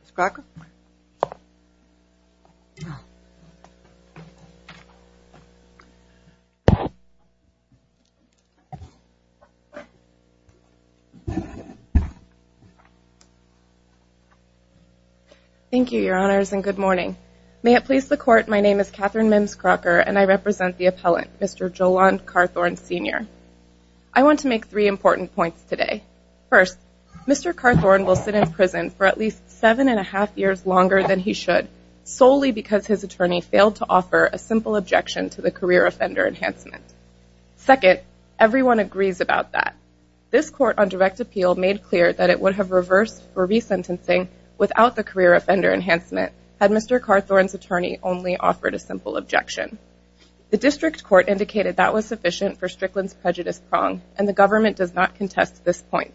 Ms. Crocker? Thank you, Your Honors, and good morning. May it please the Court, my name is Catherine Mims Crocker, and I represent the appellant, Mr. Jolon Carthorne, Sr. I want to make three important points today. First, Mr. Carthorne will sit in prison for at least seven and a half years longer than he should, solely because his attorney failed to offer a simple objection to the career offender enhancement. Second, everyone agrees about that. This court on direct appeal made clear that it would have reversed for resentencing without the career offender enhancement had Mr. Carthorne's attorney only offered a simple objection. The district court indicated that was sufficient for Strickland's prejudice prong, and the government does not contest this point.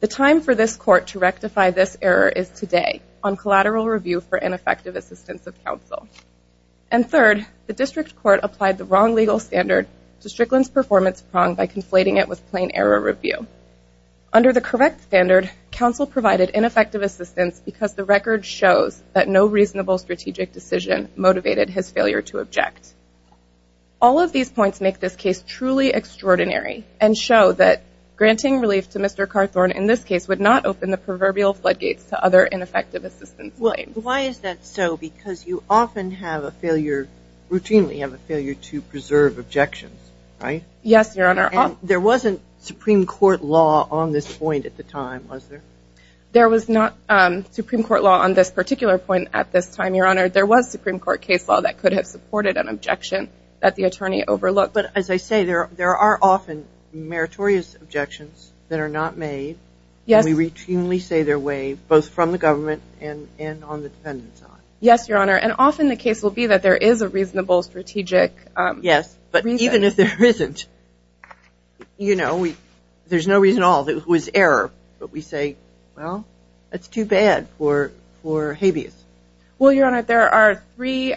The time for this court to rectify this error is today on collateral review for ineffective assistance of counsel. And third, the district court applied the wrong legal standard to Strickland's performance prong by conflating it with plain error review. Under the correct standard, counsel provided ineffective assistance because the record shows that no reasonable strategic decision motivated his failure to object. All of these points make this case truly extraordinary and show that granting relief to Mr. Carthorne in this case would not open the proverbial floodgates to other ineffective assistance claims. Well, why is that so? Because you often have a failure, routinely have a failure to preserve objections, right? Yes, Your Honor. And there wasn't Supreme Court law on this point at the time, was there? There was not Supreme Court law on this particular point at this time, Your Honor. There was no Supreme Court case law that could have supported an objection that the attorney overlooked. But as I say, there are often meritorious objections that are not made, and we routinely say they're waived, both from the government and on the defendant's side. Yes, Your Honor. And often the case will be that there is a reasonable strategic reason. Yes, but even if there isn't, you know, there's no reason at all that it was error, but we say, well, that's too bad for habeas. Well, Your Honor, there are three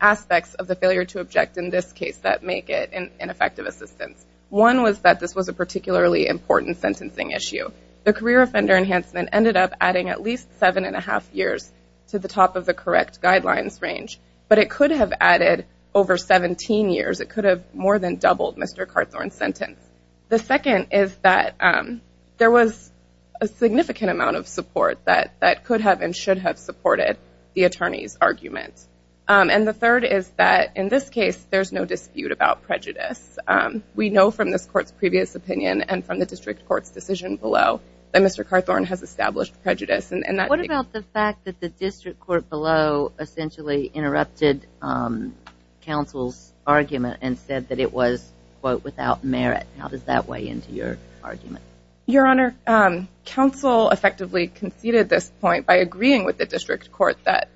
aspects of the failure to object in this case that make it an ineffective assistance. One was that this was a particularly important sentencing issue. The career offender enhancement ended up adding at least 7 1⁄2 years to the top of the correct guidelines range, but it could have added over 17 years. It could have more than doubled Mr. Carthorne's sentence. The second is that there was a significant amount of support that could have and should have supported the attorney's argument. And the third is that, in this case, there's no dispute about prejudice. We know from this court's previous opinion and from the district court's decision below that Mr. Carthorne has established prejudice, and that... What about the fact that the district court below essentially interrupted counsel's argument and said that it was, quote, without merit? How does that weigh into your argument? Your Honor, counsel effectively conceded this point by agreeing with the district court that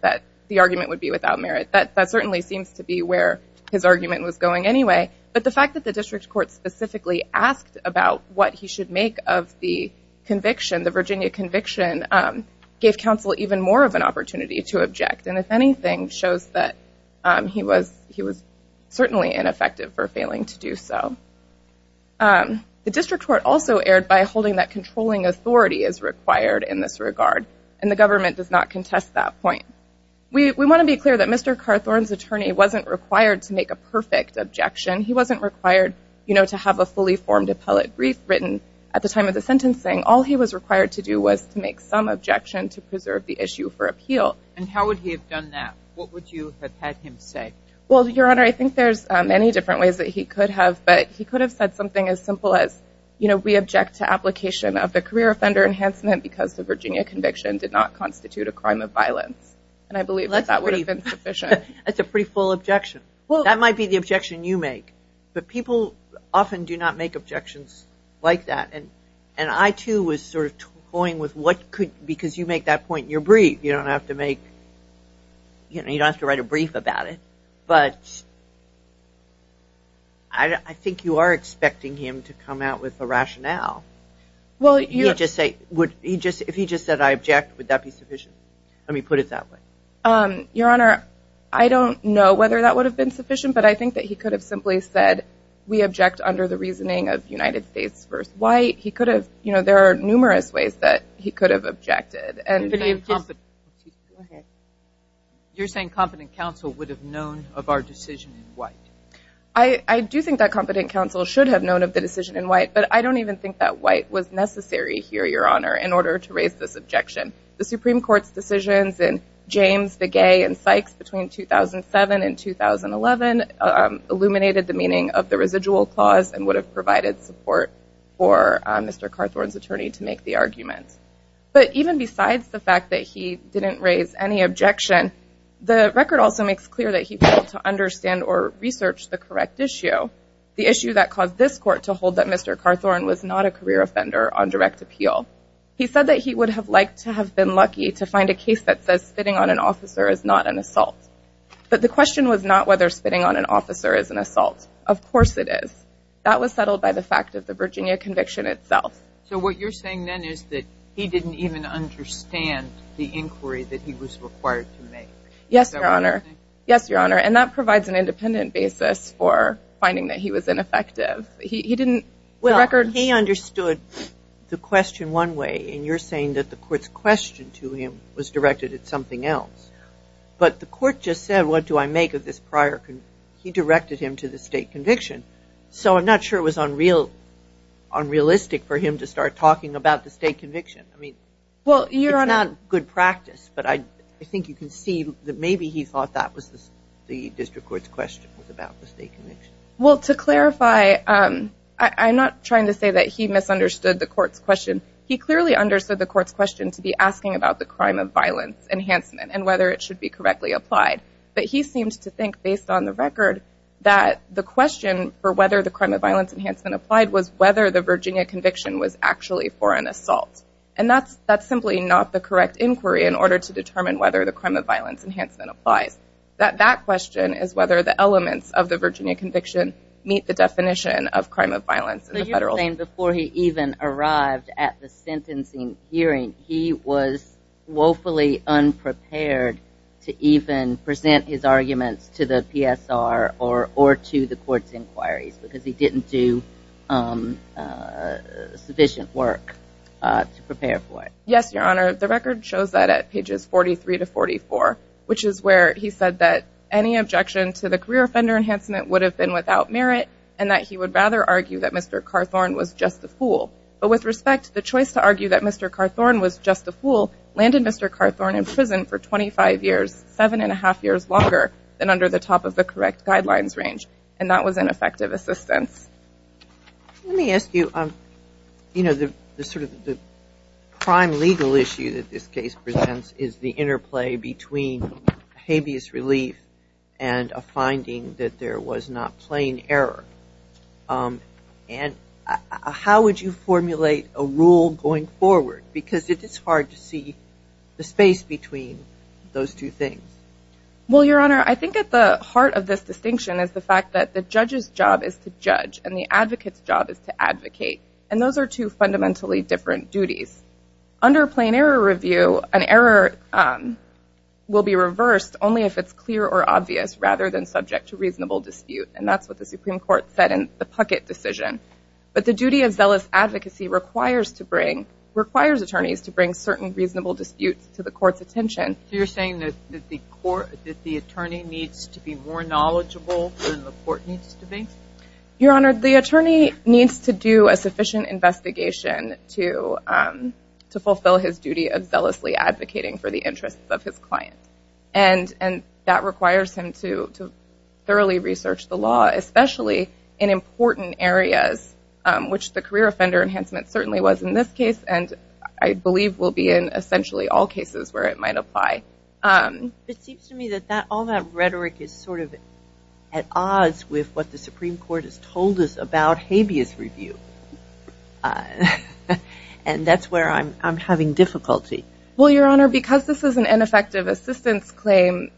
the argument would be without merit. That certainly seems to be where his argument was going anyway, but the fact that the district court specifically asked about what he should make of the conviction, the Virginia conviction, gave counsel even more of an opportunity to object and, if anything, shows that he was certainly ineffective for failing to do so. The district court also erred by holding that controlling authority is required in this regard, and the government does not contest that point. We want to be clear that Mr. Carthorne's attorney wasn't required to make a perfect objection. He wasn't required, you know, to have a fully formed appellate brief written at the time of the sentencing. All he was required to do was to make some objection to preserve the issue for appeal. And how would he have done that? What would you have had him say? Well, Your Honor, I think there's many different ways that he could have, but he could have said something as simple as, you know, we object to application of the career offender enhancement because the Virginia conviction did not constitute a crime of violence. And I believe that that would have been sufficient. That's a pretty full objection. That might be the objection you make, but people often do not make objections like that, and I, too, was sort of toying with what could, because you make that point in your brief, you don't have to make, you know, you don't have to make a brief about it, but I think you are expecting him to come out with a rationale. Well, you just say, if he just said, I object, would that be sufficient? Let me put it that way. Your Honor, I don't know whether that would have been sufficient, but I think that he could have simply said, we object under the reasoning of United States v. White. He could have, you know, there are numerous ways that he could have objected. You're saying competent counsel would have known of our decision in White? I do think that competent counsel should have known of the decision in White, but I don't even think that White was necessary here, Your Honor, in order to raise this objection. The Supreme Court's decisions in James v. Gay and Sykes between 2007 and 2011 illuminated the meaning of the residual clause and would have provided support for Mr. Carthorne's defense, the fact that he didn't raise any objection. The record also makes clear that he failed to understand or research the correct issue, the issue that caused this Court to hold that Mr. Carthorne was not a career offender on direct appeal. He said that he would have liked to have been lucky to find a case that says spitting on an officer is not an assault. But the question was not whether spitting on an officer is an assault. Of course it is. That was settled by the fact of the Virginia conviction itself. So what you're saying then is that he didn't even understand the inquiry that he was required to make. Yes, Your Honor. Yes, Your Honor. And that provides an independent basis for finding that he was ineffective. He didn't – the record – Well, he understood the question one way, and you're saying that the Court's question to him was directed at something else. But the Court just said, what do I make of this prior – he directed him to the state conviction. So I'm not sure it was unrealistic for him to start talking about the state conviction. I mean, it's not good practice, but I think you can see that maybe he thought that was the District Court's question was about the state conviction. Well, to clarify, I'm not trying to say that he misunderstood the Court's question. He clearly understood the Court's question to be asking about the crime of violence enhancement and whether it should be correctly applied. But he seemed to think, based on the record, that the question for whether the crime of violence enhancement applied was whether the victim was actually for an assault. And that's simply not the correct inquiry in order to determine whether the crime of violence enhancement applies. That question is whether the elements of the Virginia conviction meet the definition of crime of violence in the federal system. But you're saying before he even arrived at the sentencing hearing, he was woefully unprepared to even present his arguments to the PSR or to the Court's inquiries because he didn't do sufficient work to prepare for it. Yes, Your Honor. The record shows that at pages 43 to 44, which is where he said that any objection to the career offender enhancement would have been without merit and that he would rather argue that Mr. Carthorn was just a fool. But with respect, the choice to argue that Mr. Carthorn was just a fool landed Mr. Carthorn in prison for 25 years, 7 1⁄2 years longer than under the top of the correct guidelines range. And that was an effective assistance. Let me ask you, you know, the sort of the prime legal issue that this case presents is the interplay between habeas relief and a finding that there was not plain error. And how would you formulate a rule going forward? Because it is hard to see the space between those two things. Well, Your Honor, I think at the heart of this distinction is the fact that the judge's job is to judge and the advocate's job is to advocate. And those are two fundamentally different duties. Under plain error review, an error will be reversed only if it's clear or obvious rather than subject to reasonable dispute. And that's what the Supreme Court said in the Puckett decision. But the duty of zealous advocacy requires to bring, requires attorneys to bring certain reasonable disputes to the Court's attention. So you're saying that the Court, that the attorney needs to be more knowledgeable than the Court needs to be? Your Honor, the attorney needs to do a sufficient investigation to fulfill his duty of zealously advocating for the interests of his client. And that requires him to thoroughly research the law, especially in important areas, which the career offender enhancement certainly was in this case and I believe will be in essentially all cases where it might apply. It seems to me that all that rhetoric is sort of at odds with what the Supreme Court has told us about habeas review. And that's where I'm having difficulty. Well, Your Honor, because this is an ineffective assistance claim,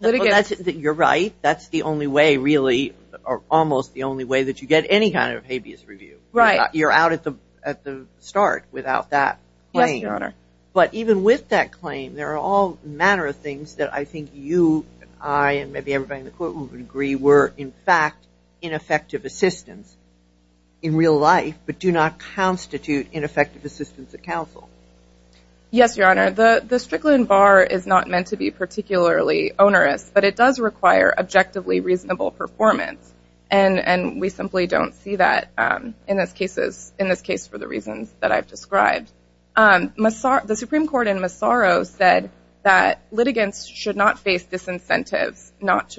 litigants... You're right. That's the only way, really, or almost the only way that you get any kind of habeas review. Right. Because you're out at the start without that claim. Yes, Your Honor. But even with that claim, there are all manner of things that I think you, I, and maybe everybody in the Courtroom would agree were, in fact, ineffective assistance in real life, but do not constitute ineffective assistance at counsel. Yes, Your Honor. The Strickland bar is not meant to be particularly onerous, but it does require objectively reasonable performance. And we simply don't see that in this case for the reasons that I've described. The Supreme Court in Massaro said that litigants should not face disincentives not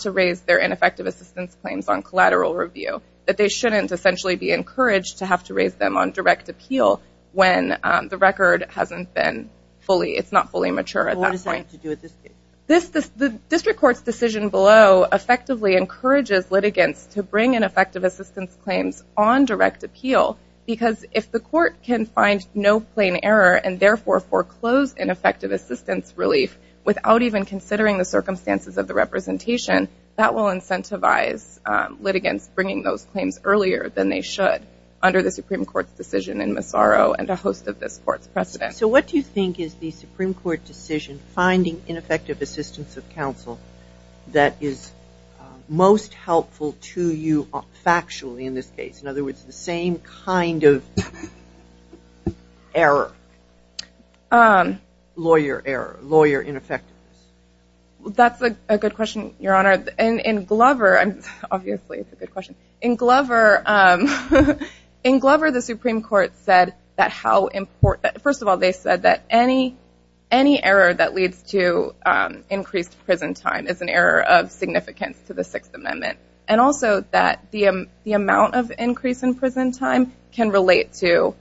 to raise their ineffective assistance claims on collateral review, that they shouldn't essentially be encouraged to have to raise them on direct appeal when the record hasn't been fully, it's not fully mature at that point. Well, what does that have to do with this case? This, the district court's decision below effectively encourages litigants to bring ineffective assistance claims on direct appeal because if the court can find no plain error and therefore foreclose ineffective assistance relief without even considering the circumstances of the representation, that will incentivize litigants bringing those claims earlier than they should under the Supreme Court's decision in Massaro and a host of this Court's precedent. So what do you think is the Supreme Court decision finding ineffective assistance of counsel that is most helpful to you factually in this case? In other words, the same kind of error, lawyer error, lawyer ineffectiveness. That's a good question, Your Honor. In Glover, obviously it's a good question. In Glover, in Glover, the Supreme Court said that how important, first of all, they said that any error that leads to increased prison time is an error of significance to the Sixth Amendment. And also that the amount of increase in prison time can relate to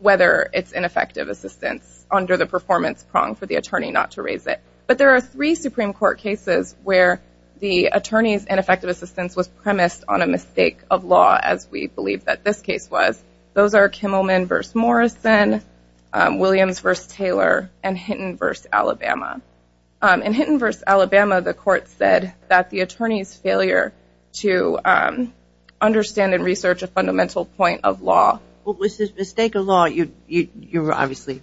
whether it's ineffective assistance under the performance prong for the attorney not to raise it. But there are three Supreme Court cases where the attorney's ineffective assistance was premised on a mistake of law, as we believe that this case was. Those are Kimmelman v. Morrison, Williams v. Taylor, and Hinton v. Alabama. In Hinton v. Alabama, the Court said that the attorney's failure to understand and research a fundamental point of law... Well, with this mistake of law, you're obviously,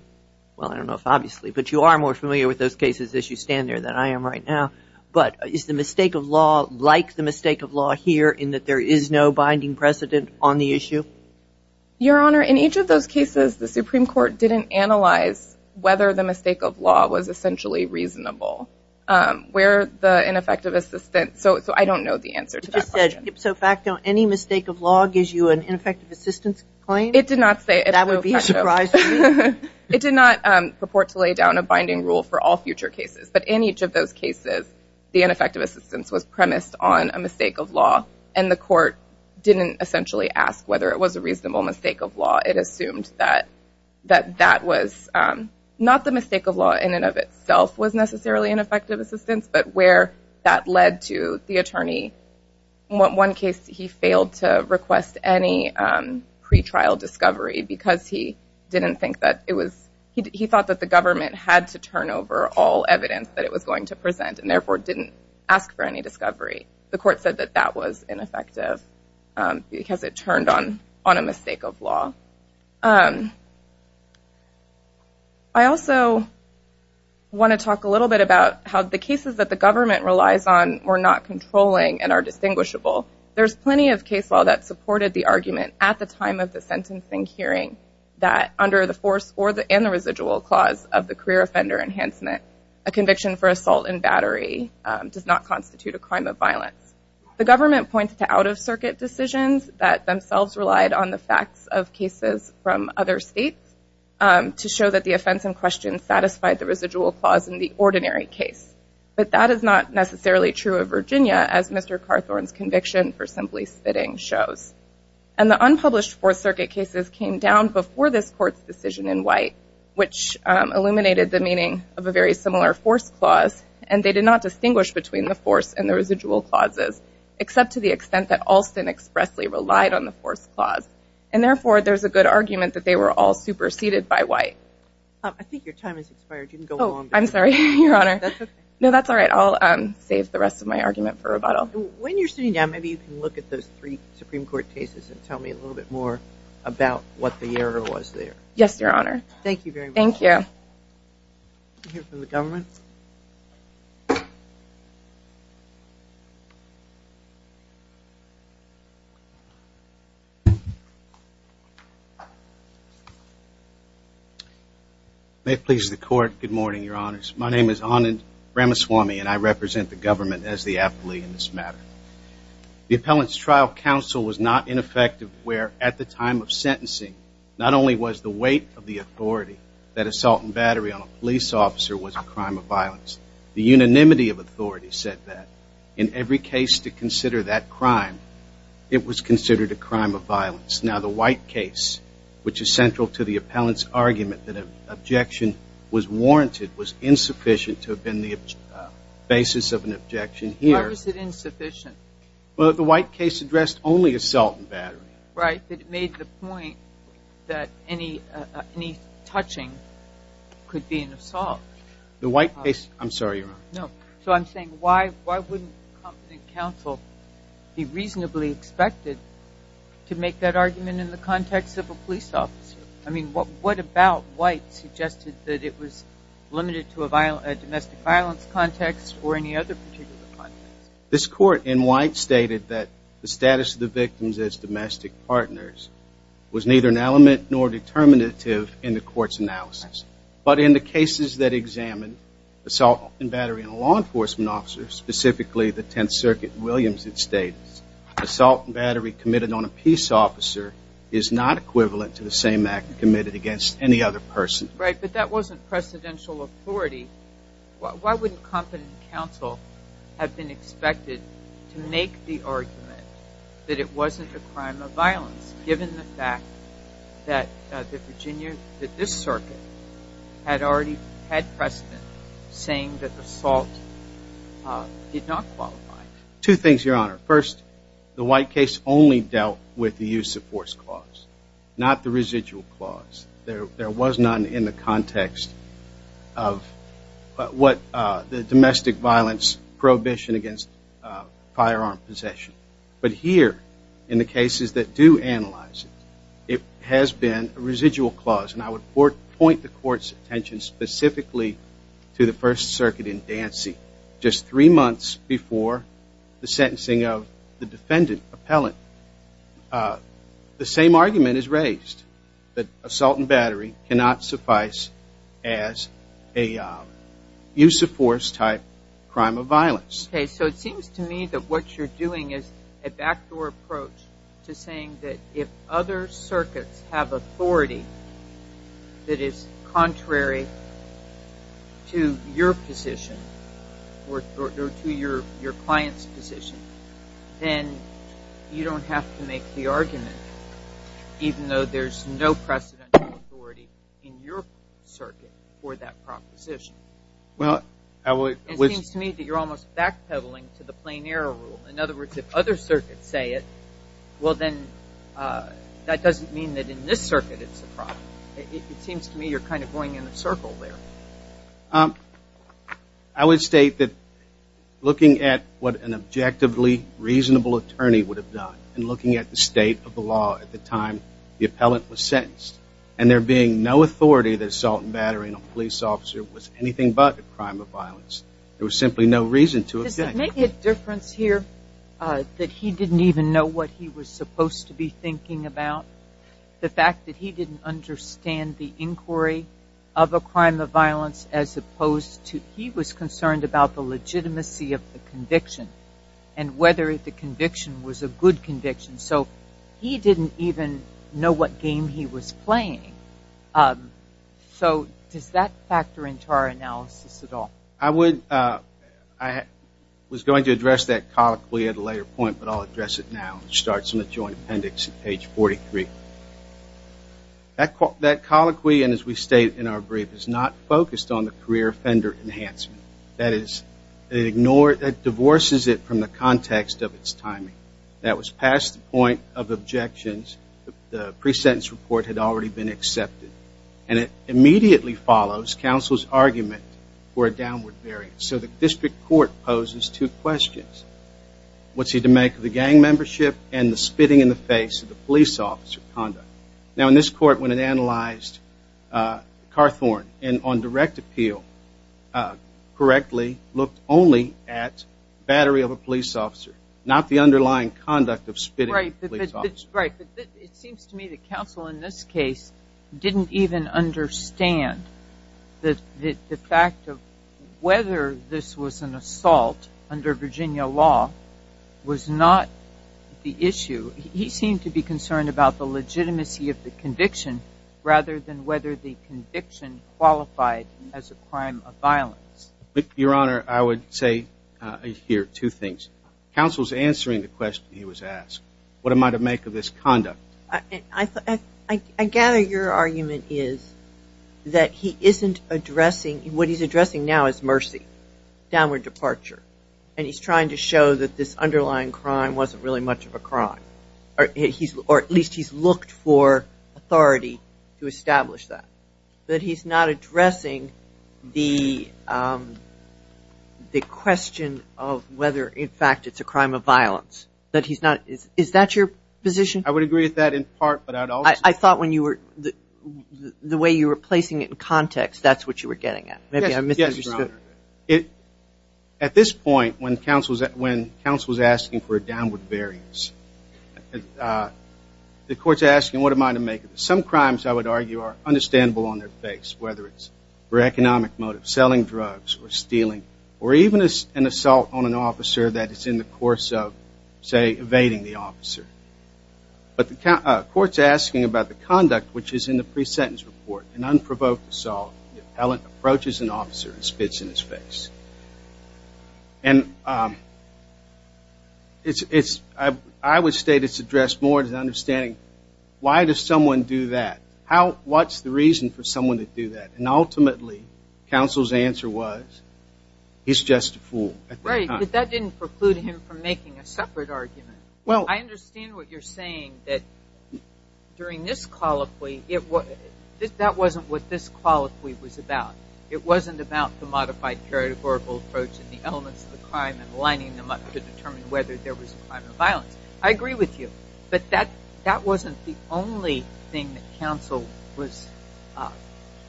well, I don't know if obviously, but you are more familiar with those cases as you stand there than I am right now. But is the mistake of law like the mistake of law here in that there is no binding precedent on the issue? Your Honor, in each of those cases, the Supreme Court didn't analyze whether the mistake of law was essentially reasonable. Where the ineffective assistance, so I don't know the answer to that question. You just said ipso facto, any mistake of law gives you an ineffective assistance claim? It did not say ipso facto. That would be a surprise to me. It did not purport to lay down a binding rule for all future cases. But in each of those cases, the ineffective assistance was premised on a mistake of law. And the Court didn't essentially ask whether it was a reasonable mistake of law. It assumed that that was not the mistake of law in and of itself was necessarily an effective assistance, but where that led to the attorney. One case, he failed to request any pretrial discovery because he didn't think that it was going to present and therefore didn't ask for any discovery. The Court said that that was ineffective because it turned on a mistake of law. I also want to talk a little bit about how the cases that the government relies on were not controlling and are distinguishable. There's plenty of case law that supported the argument at the time of the sentencing hearing that under the force and the residual clause of the career offender enhancement, a conviction for assault and battery does not constitute a crime of violence. The government points to out-of-circuit decisions that themselves relied on the facts of cases from other states to show that the offense in question satisfied the residual clause in the ordinary case. But that is not necessarily true of Virginia, as Mr. Carthorne's conviction for simply spitting shows. And the unpublished Fourth Circuit cases came down before this Court's decision in White, which illuminated the meaning of a very similar force clause, and they did not distinguish between the force and the residual clauses, except to the extent that Alston expressly relied on the force clause. And therefore, there's a good argument that they were all superseded by White. I think your time has expired. You can go on. I'm sorry, Your Honor. That's okay. No, that's all right. I'll save the rest of my argument for rebuttal. When you're sitting down, maybe you can look at those three Supreme Court cases and tell me a little bit more about what the error was there. Yes, Your Honor. Thank you very much. Thank you. Can we hear from the government? May it please the Court. Good morning, Your Honors. My name is Anand Ramaswamy, and I represent the government as the appellee in this matter. The appellant's trial counsel was not ineffective where, at the time of sentencing, not only was the weight of the authority that assault and battery on a police officer was a crime of violence. The unanimity of authority said that. In every case to consider that crime, it was considered a crime of violence. Now, the White case, which is central to the appellant's argument that an objection was warranted, was insufficient to have been the basis of an objection here. Why was it insufficient? Well, the White case addressed only assault and battery. Right, but it made the point that any touching could be an assault. The White case, I'm sorry, Your Honor. No. So I'm saying, why wouldn't counsel be reasonably expected to make that argument in the context of a police officer? I mean, what about White suggested that it was limited to a domestic violence context or any other particular context? This court in White stated that the status of the victims as domestic partners was neither an element nor determinative in the court's analysis. But in the cases that examined assault and battery on a law enforcement officer, specifically the Tenth Circuit, Williams had stated, assault and battery committed on a peace officer is not equivalent to the same act committed against any other person. Right, but that wasn't precedential authority. Why wouldn't competent counsel have been expected to make the argument that it wasn't a crime of violence, given the fact that the Virginia, that this circuit, had already had precedent saying that assault did not qualify? Two things, Your Honor. First, the White case only dealt with the use of force clause, not the residual clause. There was none in the context of what the domestic violence prohibition against firearm possession. But here, in the cases that do analyze it, it has been a residual clause. And I would point the court's attention specifically to the First Circuit in Dancy. Just three months before the sentencing of the defendant, appellant, the same argument is raised, that assault and battery cannot suffice as a use of force type crime of violence. Okay, so it seems to me that what you're doing is a backdoor approach to saying that if other to your client's position, then you don't have to make the argument, even though there's no precedential authority in your circuit for that proposition. Well, I would... It seems to me that you're almost backpedaling to the plain error rule. In other words, if other circuits say it, well then, that doesn't mean that in this circuit it's a problem. It seems to me you're kind of going in a circle there. I would state that looking at what an objectively reasonable attorney would have done, and looking at the state of the law at the time the appellant was sentenced, and there being no authority that assault and battery in a police officer was anything but a crime of violence, there was simply no reason to object. Does it make a difference here that he didn't even know what he was supposed to be thinking about? The fact that he didn't understand the inquiry of a crime of violence, as opposed to he was concerned about the legitimacy of the conviction, and whether the conviction was a good conviction. So he didn't even know what game he was playing. So does that factor into our analysis at all? I would... I was going to address that colloquially at a later point, but I'll address it now. It starts in the joint appendix at page 43. That colloquy, and as we state in our brief, is not focused on the career offender enhancement. That is, it divorces it from the context of its timing. That was past the point of objections. The pre-sentence report had already been accepted. And it immediately follows counsel's argument for a downward variance. So the district court poses two questions. What's he to make of the gang membership and the spitting in the face of the police officer conduct? Now, in this court, when it analyzed Carthorne on direct appeal correctly, looked only at battery of a police officer, not the underlying conduct of spitting. Right, but it seems to me that counsel in this case didn't even understand the fact of whether this was an assault under Virginia law was not the issue. He seemed to be concerned about the legitimacy of the conviction rather than whether the conviction qualified as a crime of violence. Your Honor, I would say here two things. Counsel's answering the question he was asked. What am I to make of this conduct? I gather your argument is that he isn't addressing, what he's addressing now is mercy, downward departure. And he's trying to show that this underlying crime wasn't really much of a crime. Or at least he's looked for authority to establish that. But he's not addressing the question of whether, in fact, it's a crime of violence. Is that your position? I would agree with that in part. I thought the way you were placing it in context, that's what you were getting at. Yes, Your Honor. At this point, when counsel is asking for a downward variance, the court's asking what am I to make of this. Some crimes, I would argue, are understandable on their face, whether it's for economic motives, selling drugs, or stealing, or even an assault on an officer that is in the course of, say, evading the officer. But the court's asking about the conduct which is in the pre-sentence report, an unprovoked assault. The appellant approaches an officer and spits in his face. And I would state it's addressed more to the understanding, why does someone do that? What's the reason for someone to do that? And ultimately, counsel's answer was, he's just a fool at that time. Right, but that didn't preclude him from making a separate argument. I understand what you're saying, that during this qualify, that wasn't what this qualify was about. It wasn't about the modified periodical approach and the elements of the crime and lining them up to determine whether there was a crime of violence. I agree with you. But that wasn't the only thing that counsel was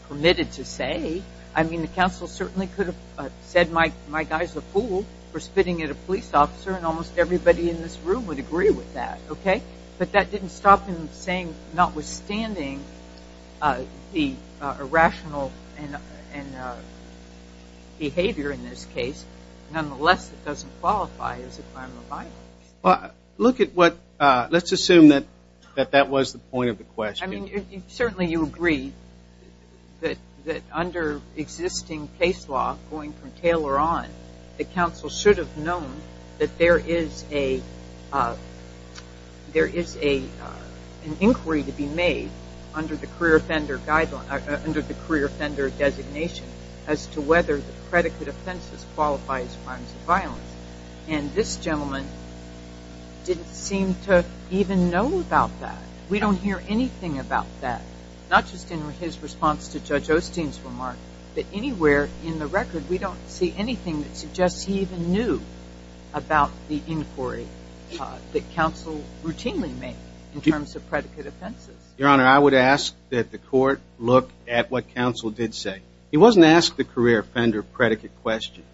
permitted to say. I mean, the counsel certainly could have said, my guy's a fool for spitting at a police officer, and almost everybody in this room would agree with that. But that didn't stop him saying, notwithstanding the irrational behavior in this case, nonetheless, it doesn't qualify as a crime of violence. Let's assume that that was the point of the question. Certainly you agree that under existing case law, going from Taylor on, the counsel should have known that there is an inquiry to be made under the career offender designation as to whether the predicate offenses qualify as crimes of violence. And this gentleman didn't seem to even know about that. We don't hear anything about that, not just in his response to Judge Osteen's remark, but anywhere in the record we don't see anything that suggests he even knew about the inquiry that counsel routinely made in terms of predicate offenses. Your Honor, I would ask that the court look at what counsel did say. He wasn't asked the career offender predicate question,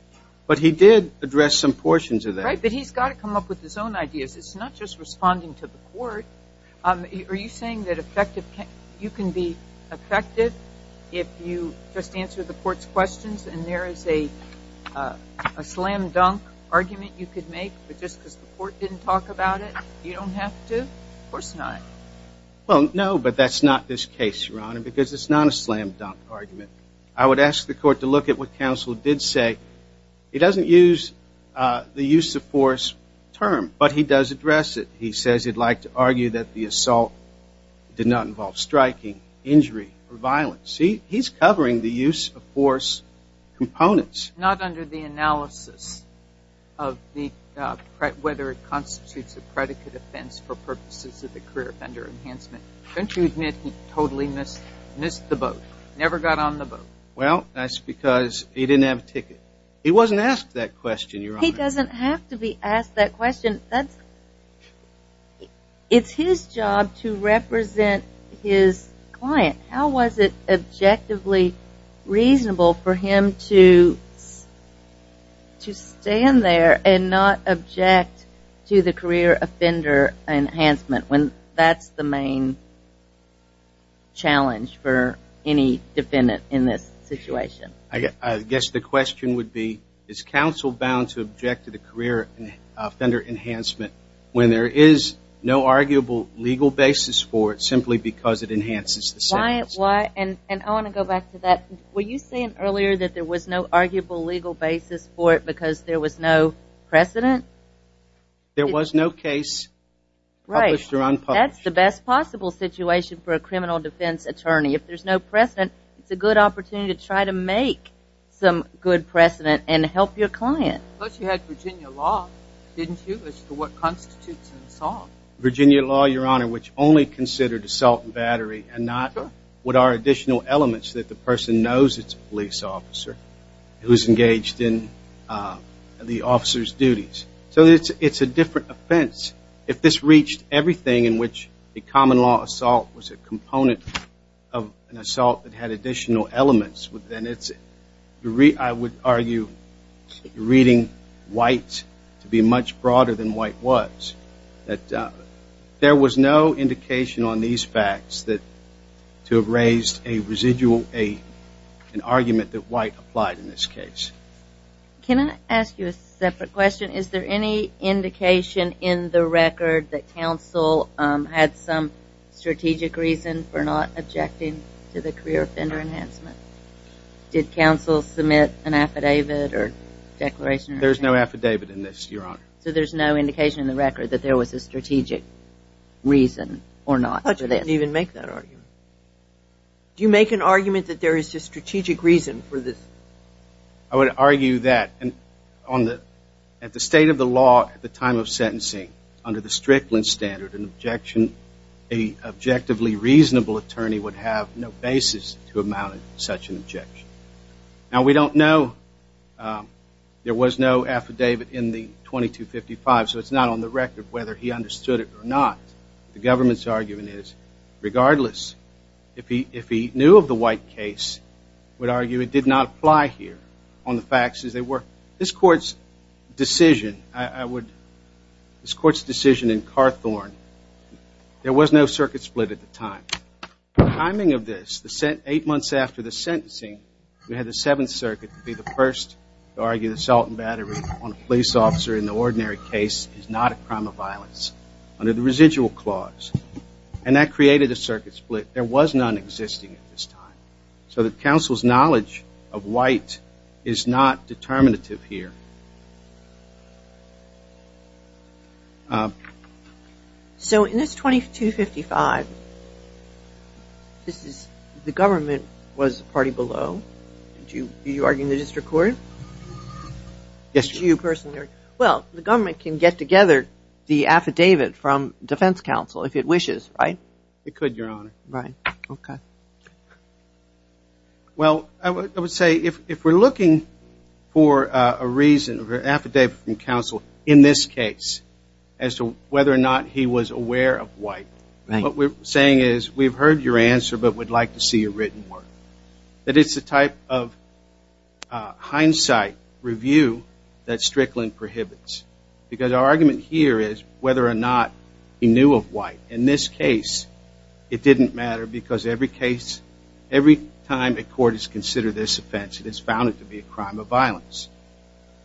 but he did address some portions of that. Right, but he's got to come up with his own ideas. It's not just responding to the court. Are you saying that you can be effective if you just answer the court's questions and there is a slam dunk argument you could make, but just because the court didn't talk about it, you don't have to? Of course not. Well, no, but that's not this case, Your Honor, because it's not a slam dunk argument. I would ask the court to look at what counsel did say. He doesn't use the use of force term, but he does address it. He says he'd like to argue that the assault did not involve striking, injury, or violence. He's covering the use of force components. Not under the analysis of whether it constitutes a predicate offense for purposes of the career offender enhancement. Don't you admit he totally missed the boat, never got on the boat? Well, that's because he didn't have a ticket. He wasn't asked that question, Your Honor. He doesn't have to be asked that question. It's his job to represent his client. How was it objectively reasonable for him to stand there and not object to the career offender enhancement when that's the main challenge for any defendant in this situation? I guess the question would be, is counsel bound to object to the career offender enhancement when there is no arguable legal basis for it simply because it enhances the sentence? And I want to go back to that. Were you saying earlier that there was no arguable legal basis for it because there was no precedent? There was no case published or unpublished. That's the best possible situation for a criminal defense attorney. If there's no precedent, it's a good opportunity to try to make some good precedent and help your client. But you had Virginia law, didn't you, as to what constitutes an assault? Virginia law, Your Honor, which only considered assault and battery and not what are additional elements that the person knows it's a police officer who is engaged in the officer's duties. So it's a different offense. If this reached everything in which a common law assault was a component of an assault that had additional elements, then it's, I would argue, reading white to be much broader than white was. There was no indication on these facts to have raised a residual, an argument that white applied in this case. Can I ask you a separate question? Is there any indication in the record that counsel had some strategic reason for not objecting to the career offender enhancement? Did counsel submit an affidavit or declaration? There's no affidavit in this, Your Honor. So there's no indication in the record that there was a strategic reason or not for this. I thought you didn't even make that argument. Do you make an argument that there is a strategic reason for this? I would argue that at the state of the law at the time of sentencing, under the Strickland standard, an objection, an objectively reasonable attorney would have no basis to amount to such an objection. Now, we don't know. There was no affidavit in the 2255, so it's not on the record whether he understood it or not. The government's argument is, regardless, if he knew of the white case, would argue it did not apply here on the facts as they were. This Court's decision, I would, this Court's decision in Carthorn, there was no circuit split at the time. The timing of this, eight months after the sentencing, we had the Seventh Circuit be the first to argue that salt and battery on a police officer in the ordinary case is not a crime of violence under the residual clause. And that created a circuit split. There was none existing at this time. So the counsel's knowledge of white is not determinative here. So in this 2255, this is, the government was the party below. Did you argue in the district court? Yes, Your Honor. Did you personally? Well, the government can get together the affidavit from defense counsel if it wishes, right? It could, Your Honor. Right. Okay. Well, I would say if we're looking for a reason, an affidavit from counsel in this case as to whether or not he was aware of white, what we're saying is we've heard your answer but would like to see a written word. That it's the type of hindsight review that Strickland prohibits. Because our argument here is whether or not he knew of white. In this case, it didn't matter because every time a court has considered this offense, it has found it to be a crime of violence.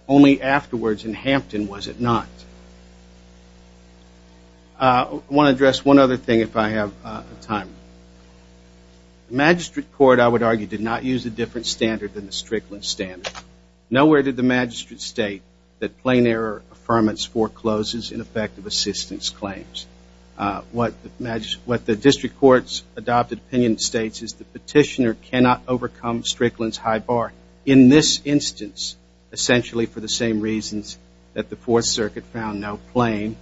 Only afterwards in Hampton was it not. I want to address one other thing if I have time. The magistrate court, I would argue, did not use a different standard than the Strickland standard. Nowhere did the magistrate state that plain error affirmance forecloses ineffective assistance claims. What the district court's adopted opinion states is the petitioner cannot overcome Strickland's high bar in this instance, essentially for the same reasons that the Fourth Circuit found no plain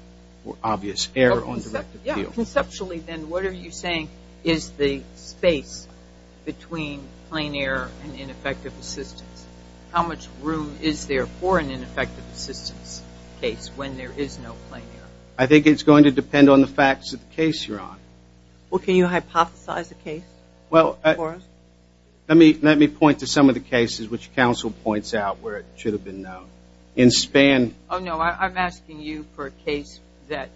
or obvious error on direct appeal. So conceptually, then, what are you saying is the space between plain error and ineffective assistance? How much room is there for an ineffective assistance case when there is no plain error? I think it's going to depend on the facts of the case you're on. Well, can you hypothesize a case for us? Let me point to some of the cases which counsel points out where it should have been known. Oh, no, I'm asking you for a case that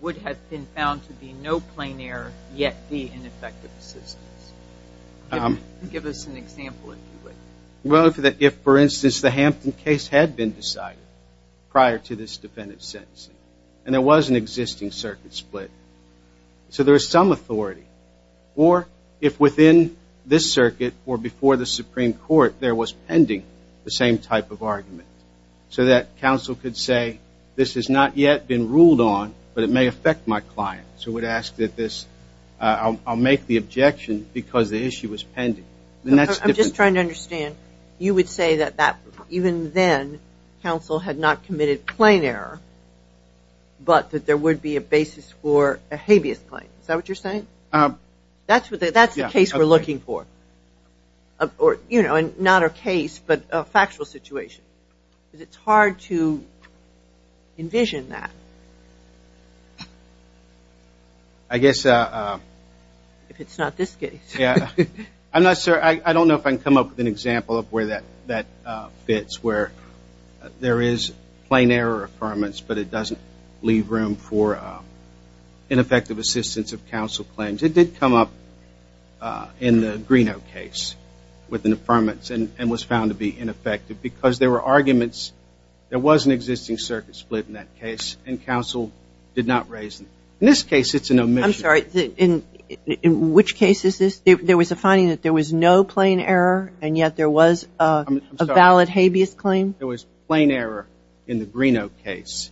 would have been found to be no plain error yet be ineffective assistance. Give us an example, if you would. Well, if, for instance, the Hampton case had been decided prior to this defendant's sentencing, and there was an existing circuit split, so there is some authority. Or if within this circuit or before the Supreme Court there was pending the same type of argument, so that counsel could say, this has not yet been ruled on, but it may affect my client. So it would ask that this, I'll make the objection because the issue was pending. I'm just trying to understand. You would say that even then, counsel had not committed plain error, but that there would be a basis for a habeas claim. Is that what you're saying? That's the case we're looking for. Not a case, but a factual situation. It's hard to envision that. I guess. If it's not this case. I don't know if I can come up with an example of where that fits, where there is plain error affirmance, but it doesn't leave room for ineffective assistance of counsel claims. It did come up in the Greeno case with an affirmance and was found to be ineffective because there were arguments there was an existing circuit split in that case, and counsel did not raise it. In this case, it's an omission. I'm sorry. In which case is this? There was a finding that there was no plain error, and yet there was a valid habeas claim? There was plain error in the Greeno case.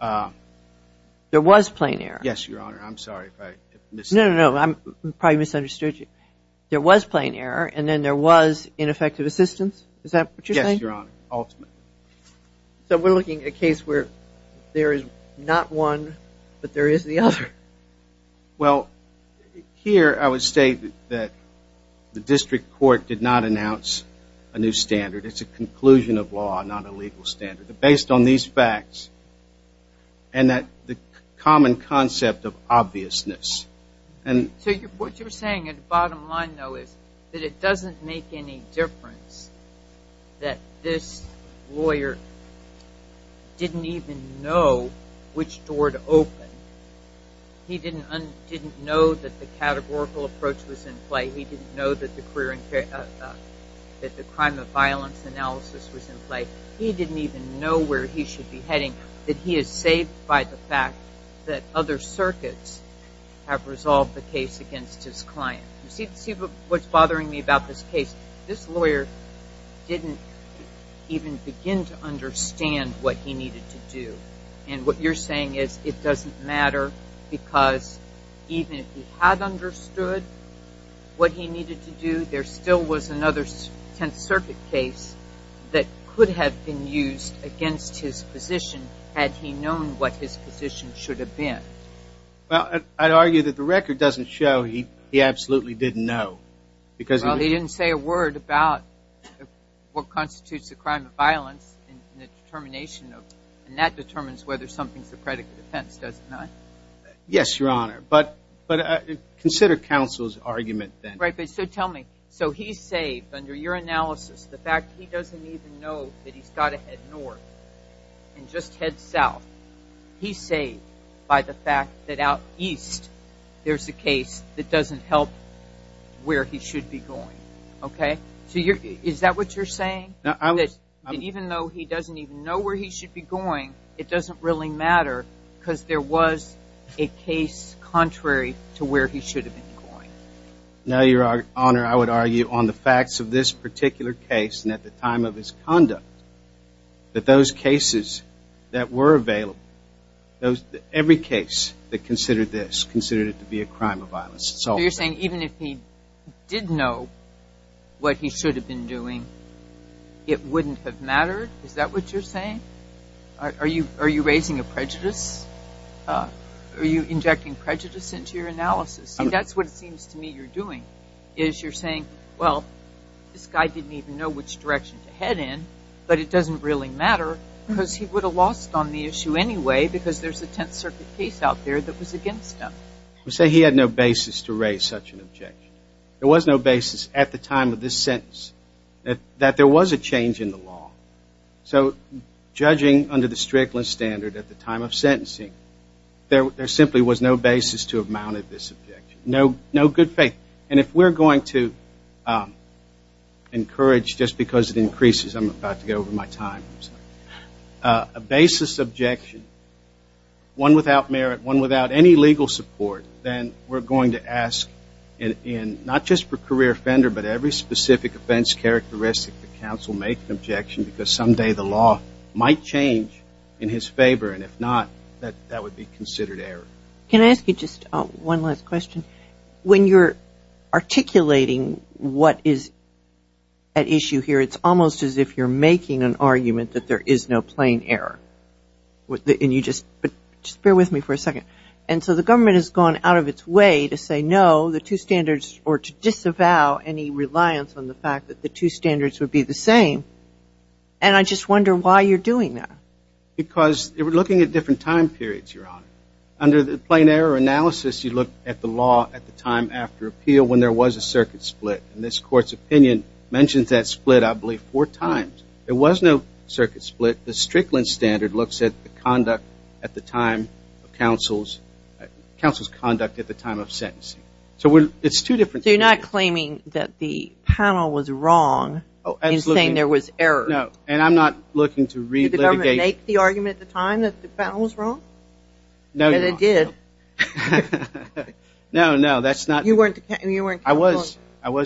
There was plain error? Yes, Your Honor. I'm sorry if I misunderstood. No, no, no. I probably misunderstood you. There was plain error, and then there was ineffective assistance? Is that what you're saying? Yes, Your Honor, ultimately. So we're looking at a case where there is not one, but there is the other. Well, here I would state that the district court did not announce a new standard. It's a conclusion of law, not a legal standard. But based on these facts and the common concept of obviousness. So what you're saying at the bottom line, though, is that it doesn't make any difference that this lawyer didn't even know which door to open. He didn't know that the categorical approach was in play. He didn't know that the crime of violence analysis was in play. He didn't even know where he should be heading. That he is saved by the fact that other circuits have resolved the case against his client. You see what's bothering me about this case? This lawyer didn't even begin to understand what he needed to do. And what you're saying is it doesn't matter because even if he had understood what he needed to do, there still was another Tenth Circuit case that could have been used against his position had he known what his position should have been. Well, I'd argue that the record doesn't show he absolutely didn't know. Well, he didn't say a word about what constitutes the crime of violence and the determination of it. And that determines whether something's a predicate offense, does it not? Yes, Your Honor. But consider counsel's argument then. Right, but so tell me. So he's saved under your analysis the fact he doesn't even know that he's got to head north and just head south. He's saved by the fact that out east there's a case that doesn't help where he should be going. Okay? So is that what you're saying? That even though he doesn't even know where he should be going, it doesn't really matter because there was a case contrary to where he should have been going. No, Your Honor. I would argue on the facts of this particular case and at the time of his conduct that those cases that were available, every case that considered this, considered it to be a crime of violence. So you're saying even if he did know what he should have been doing, it wouldn't have mattered? Is that what you're saying? Are you raising a prejudice? Are you injecting prejudice into your analysis? And that's what it seems to me you're doing is you're saying, well, this guy didn't even know which direction to head in, but it doesn't really matter because he would have lost on the issue anyway because there's a Tenth Circuit case out there that was against him. You say he had no basis to raise such an objection. There was no basis at the time of this sentence that there was a change in the law. So judging under the Strickland standard at the time of sentencing, there simply was no basis to have mounted this objection. No good faith. And if we're going to encourage, just because it increases, I'm about to go over my time, a basis objection, one without merit, one without any legal support, then we're going to ask, not just for career offender but every specific offense characteristic, the counsel make an objection because someday the law might change in his favor, and if not, that would be considered error. Can I ask you just one last question? When you're articulating what is at issue here, it's almost as if you're making an argument that there is no plain error. Just bear with me for a second. And so the government has gone out of its way to say no, the two standards, or to disavow any reliance on the fact that the two standards would be the same, and I just wonder why you're doing that. Because we're looking at different time periods, Your Honor. Under the plain error analysis, you look at the law at the time after appeal when there was a circuit split, and this Court's opinion mentions that split, I believe, four times. There was no circuit split. The Strickland standard looks at the conduct at the time of counsel's conduct at the time of sentencing. So it's two different things. So you're not claiming that the panel was wrong in saying there was error. No, and I'm not looking to re-litigate. Did the government make the argument at the time that the panel was wrong? No, Your Honor. And it did. No, no, that's not. I was,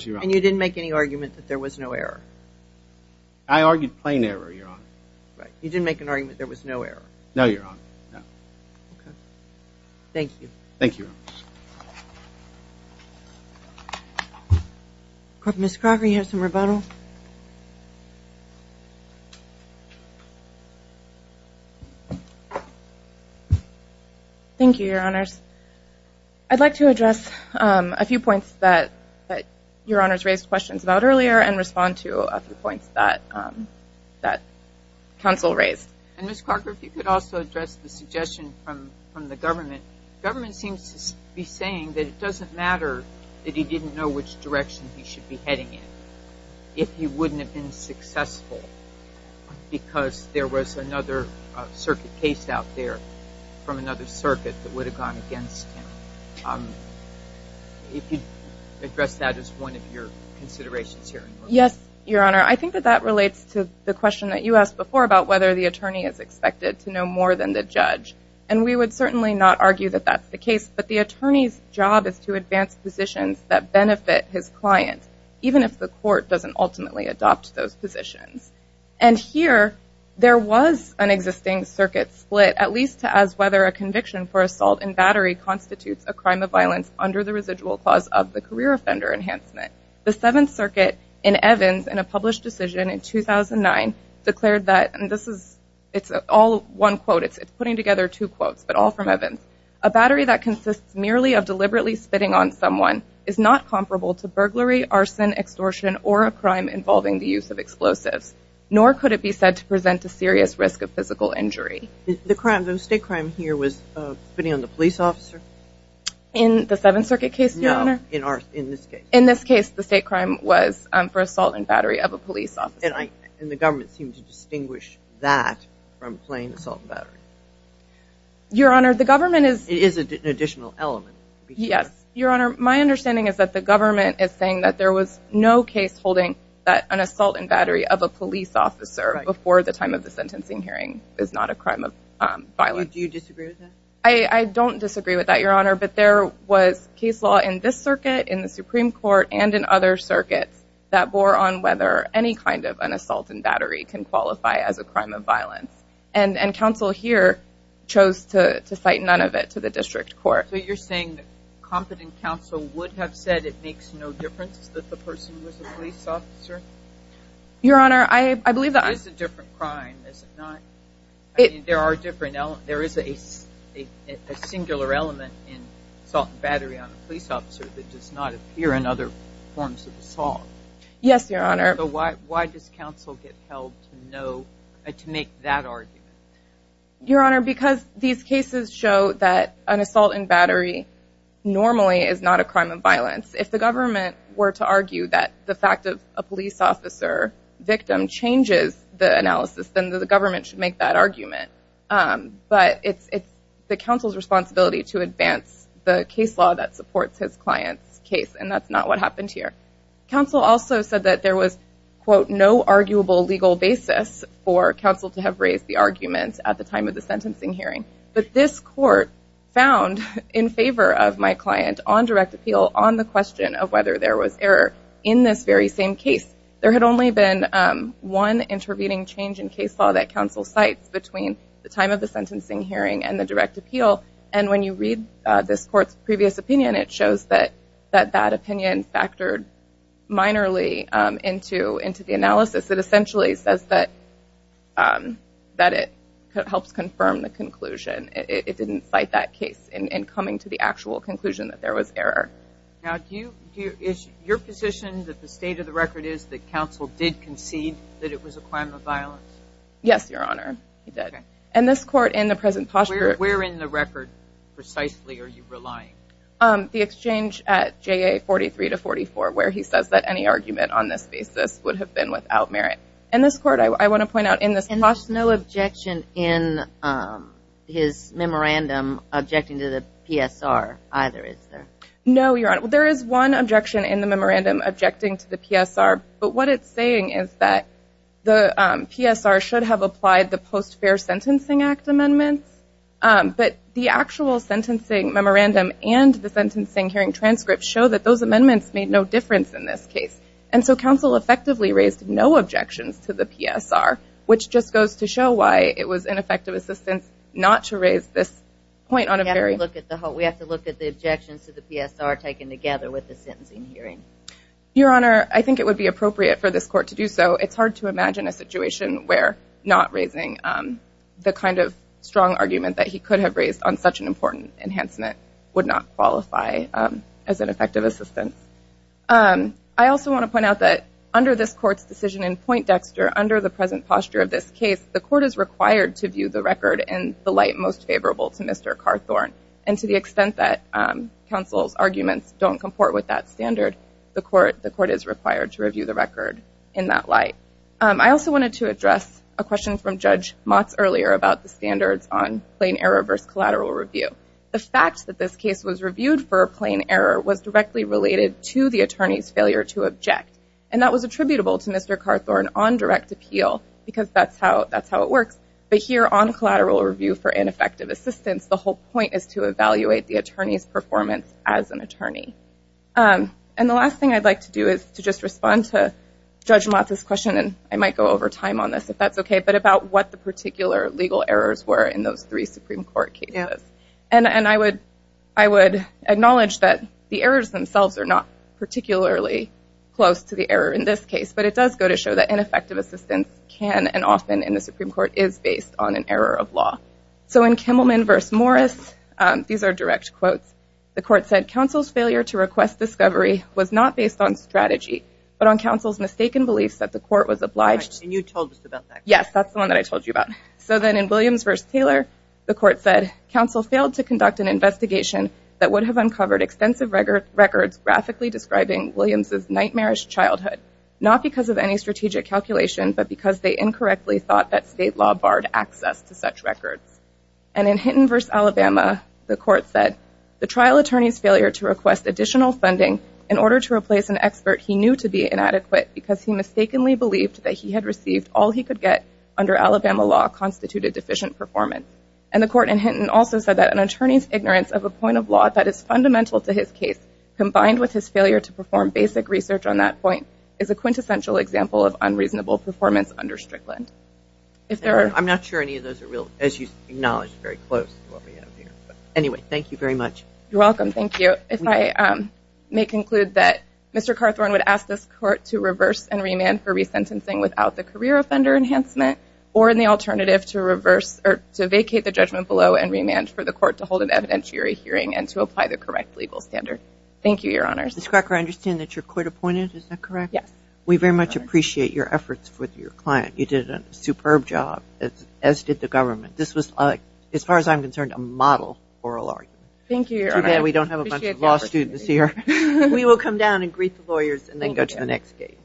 Your Honor. And you didn't make any argument that there was no error. I argued plain error, Your Honor. Right. You didn't make an argument there was no error. No, Your Honor, no. Okay. Thank you. Thank you, Your Honor. Ms. Crocker, do you have some rebuttal? Thank you, Your Honors. I'd like to address a few points that Your Honors raised questions about earlier and respond to a few points that counsel raised. And, Ms. Crocker, if you could also address the suggestion from the government. Government seems to be saying that it doesn't matter that he didn't know which direction he should be heading in if he wouldn't have been successful because there was another circuit case out there from another circuit that would have gone against him. If you could address that as one of your considerations here. Yes, Your Honor. I think that that relates to the question that you asked before about whether the attorney is expected to know more than the judge. And we would certainly not argue that that's the case. But the attorney's job is to advance positions that benefit his client even if the court doesn't ultimately adopt those positions. And here there was an existing circuit split at least as whether a conviction for assault and battery constitutes a crime of violence under the residual clause of the career offender enhancement. The Seventh Circuit in Evans in a published decision in 2009 declared that, and this is all one quote, it's putting together two quotes, but all from Evans, a battery that consists merely of deliberately spitting on someone is not comparable to burglary, arson, extortion, or a crime involving the use of explosives, nor could it be said to present a serious risk of physical injury. The crime, the state crime here was spitting on the police officer? In the Seventh Circuit case, Your Honor? No, in this case. In this case the state crime was for assault and battery of a police officer. And the government seemed to distinguish that from plain assault and battery. Your Honor, the government is... It is an additional element. Yes, Your Honor, my understanding is that the government is saying that there was no case holding that an assault and battery of a police officer before the time of the sentencing hearing is not a crime of violence. Do you disagree with that? I don't disagree with that, Your Honor, but there was case law in this circuit, in the Supreme Court, and in other circuits that bore on whether any kind of an assault and battery can qualify as a crime of violence. And counsel here chose to cite none of it to the district court. So you're saying that competent counsel would have said it makes no difference that the person was a police officer? Your Honor, I believe that... It is a different crime, is it not? There are different elements. There is a singular element in assault and battery on a police officer that does not appear in other forms of assault. Yes, Your Honor. So why does counsel get held to make that argument? Your Honor, because these cases show that an assault and battery normally is not a crime of violence. If the government were to argue that the fact of a police officer victim changes the analysis, then the government should make that argument. But it's the counsel's responsibility to advance the case law that supports his client's case, and that's not what happened here. Counsel also said that there was, quote, no arguable legal basis for counsel to have raised the argument at the time of the sentencing hearing. But this court found in favor of my client on direct appeal on the question of whether there was error in this very same case. There had only been one intervening change in case law that counsel cites between the time of the sentencing hearing and the direct appeal. And when you read this court's previous opinion, it shows that that opinion factored minorly into the analysis. It essentially says that it helps confirm the conclusion. It didn't cite that case in coming to the actual conclusion that there was error. Now, is your position that the state of the record is that it was a crime of violence? Yes, Your Honor. It did. Okay. And this court in the present posture... Where in the record precisely are you relying? The exchange at JA 43 to 44, where he says that any argument on this basis would have been without merit. And this court, I want to point out in this... And there's no objection in his memorandum objecting to the PSR either, is there? No, Your Honor. There is one objection in the memorandum objecting to the PSR, but what it's saying is that the PSR should have applied the Post-Fair Sentencing Act amendments. But the actual sentencing memorandum and the sentencing hearing transcript show that those amendments made no difference in this case. And so counsel effectively raised no objections to the PSR, which just goes to show why it was ineffective assistance not to raise this point on a very... We have to look at the objections to the PSR taken together with the sentencing hearing. Your Honor, I think it would be appropriate for this court to do so. It's hard to imagine a situation where not raising the kind of strong argument that he could have raised on such an important enhancement would not qualify as an effective assistance. I also want to point out that under this court's decision in Point Dexter, under the present posture of this case, the court is required to view the record in the light most favorable to Mr. Carthorne. And to the extent that counsel's arguments don't comport with that standard, the court is required to review the record in that light. I also wanted to address a question from Judge Motz earlier about the standards on plain error versus collateral review. The fact that this case was reviewed for a plain error was directly related to the attorney's failure to object. And that was attributable to Mr. Carthorne on direct appeal because that's how it works. But here on collateral review for ineffective assistance, the whole point is to evaluate the attorney's performance as an attorney. And the last thing I'd like to do is to just respond to Judge Motz's question, and I might go over time on this if that's okay, but about what the particular legal errors were in those three Supreme Court cases. And I would acknowledge that the errors themselves are not particularly close to the error in this case, but it does go to show that ineffective assistance can and often in the Supreme Court is based on an error of law. So in Kimmelman v. Morris, these are direct quotes. The court said, "...counsel's failure to request discovery was not based on strategy, but on counsel's mistaken beliefs that the court was obliged..." And you told us about that. Yes, that's the one that I told you about. So then in Williams v. Taylor, the court said, "...counsel failed to conduct an investigation that would have uncovered extensive records graphically describing Williams's nightmarish childhood, not because of any strategic calculation, but because they incorrectly thought that state law barred access to such records." And in Hinton v. Alabama, the court said, "...the trial attorney's failure to request additional funding in order to replace an expert he knew to be inadequate because he mistakenly believed that he had received all he could get under Alabama law constituted deficient performance." And the court in Hinton also said that "...an attorney's ignorance of a point of law that is fundamental to his case, combined with his failure to perform basic research on that point, is a quintessential example of unreasonable performance under Strickland." I'm not sure any of those are real, as you acknowledged very close. Anyway, thank you very much. You're welcome. Thank you. If I may conclude that Mr. Carthorne would ask this court to reverse and remand for resentencing without the career offender enhancement or in the alternative to vacate the judgment below and remand for the court to hold an evidentiary hearing and to apply the correct legal standard. Thank you, Your Honors. Ms. Cracker, I understand that you're court-appointed, is that correct? Yes. We very much appreciate your efforts with your client. You did a superb job, as did the government. This was, as far as I'm concerned, a model oral argument. Thank you, Your Honor. Too bad we don't have a bunch of law students here. We will come down and greet the lawyers and then go to the next gate.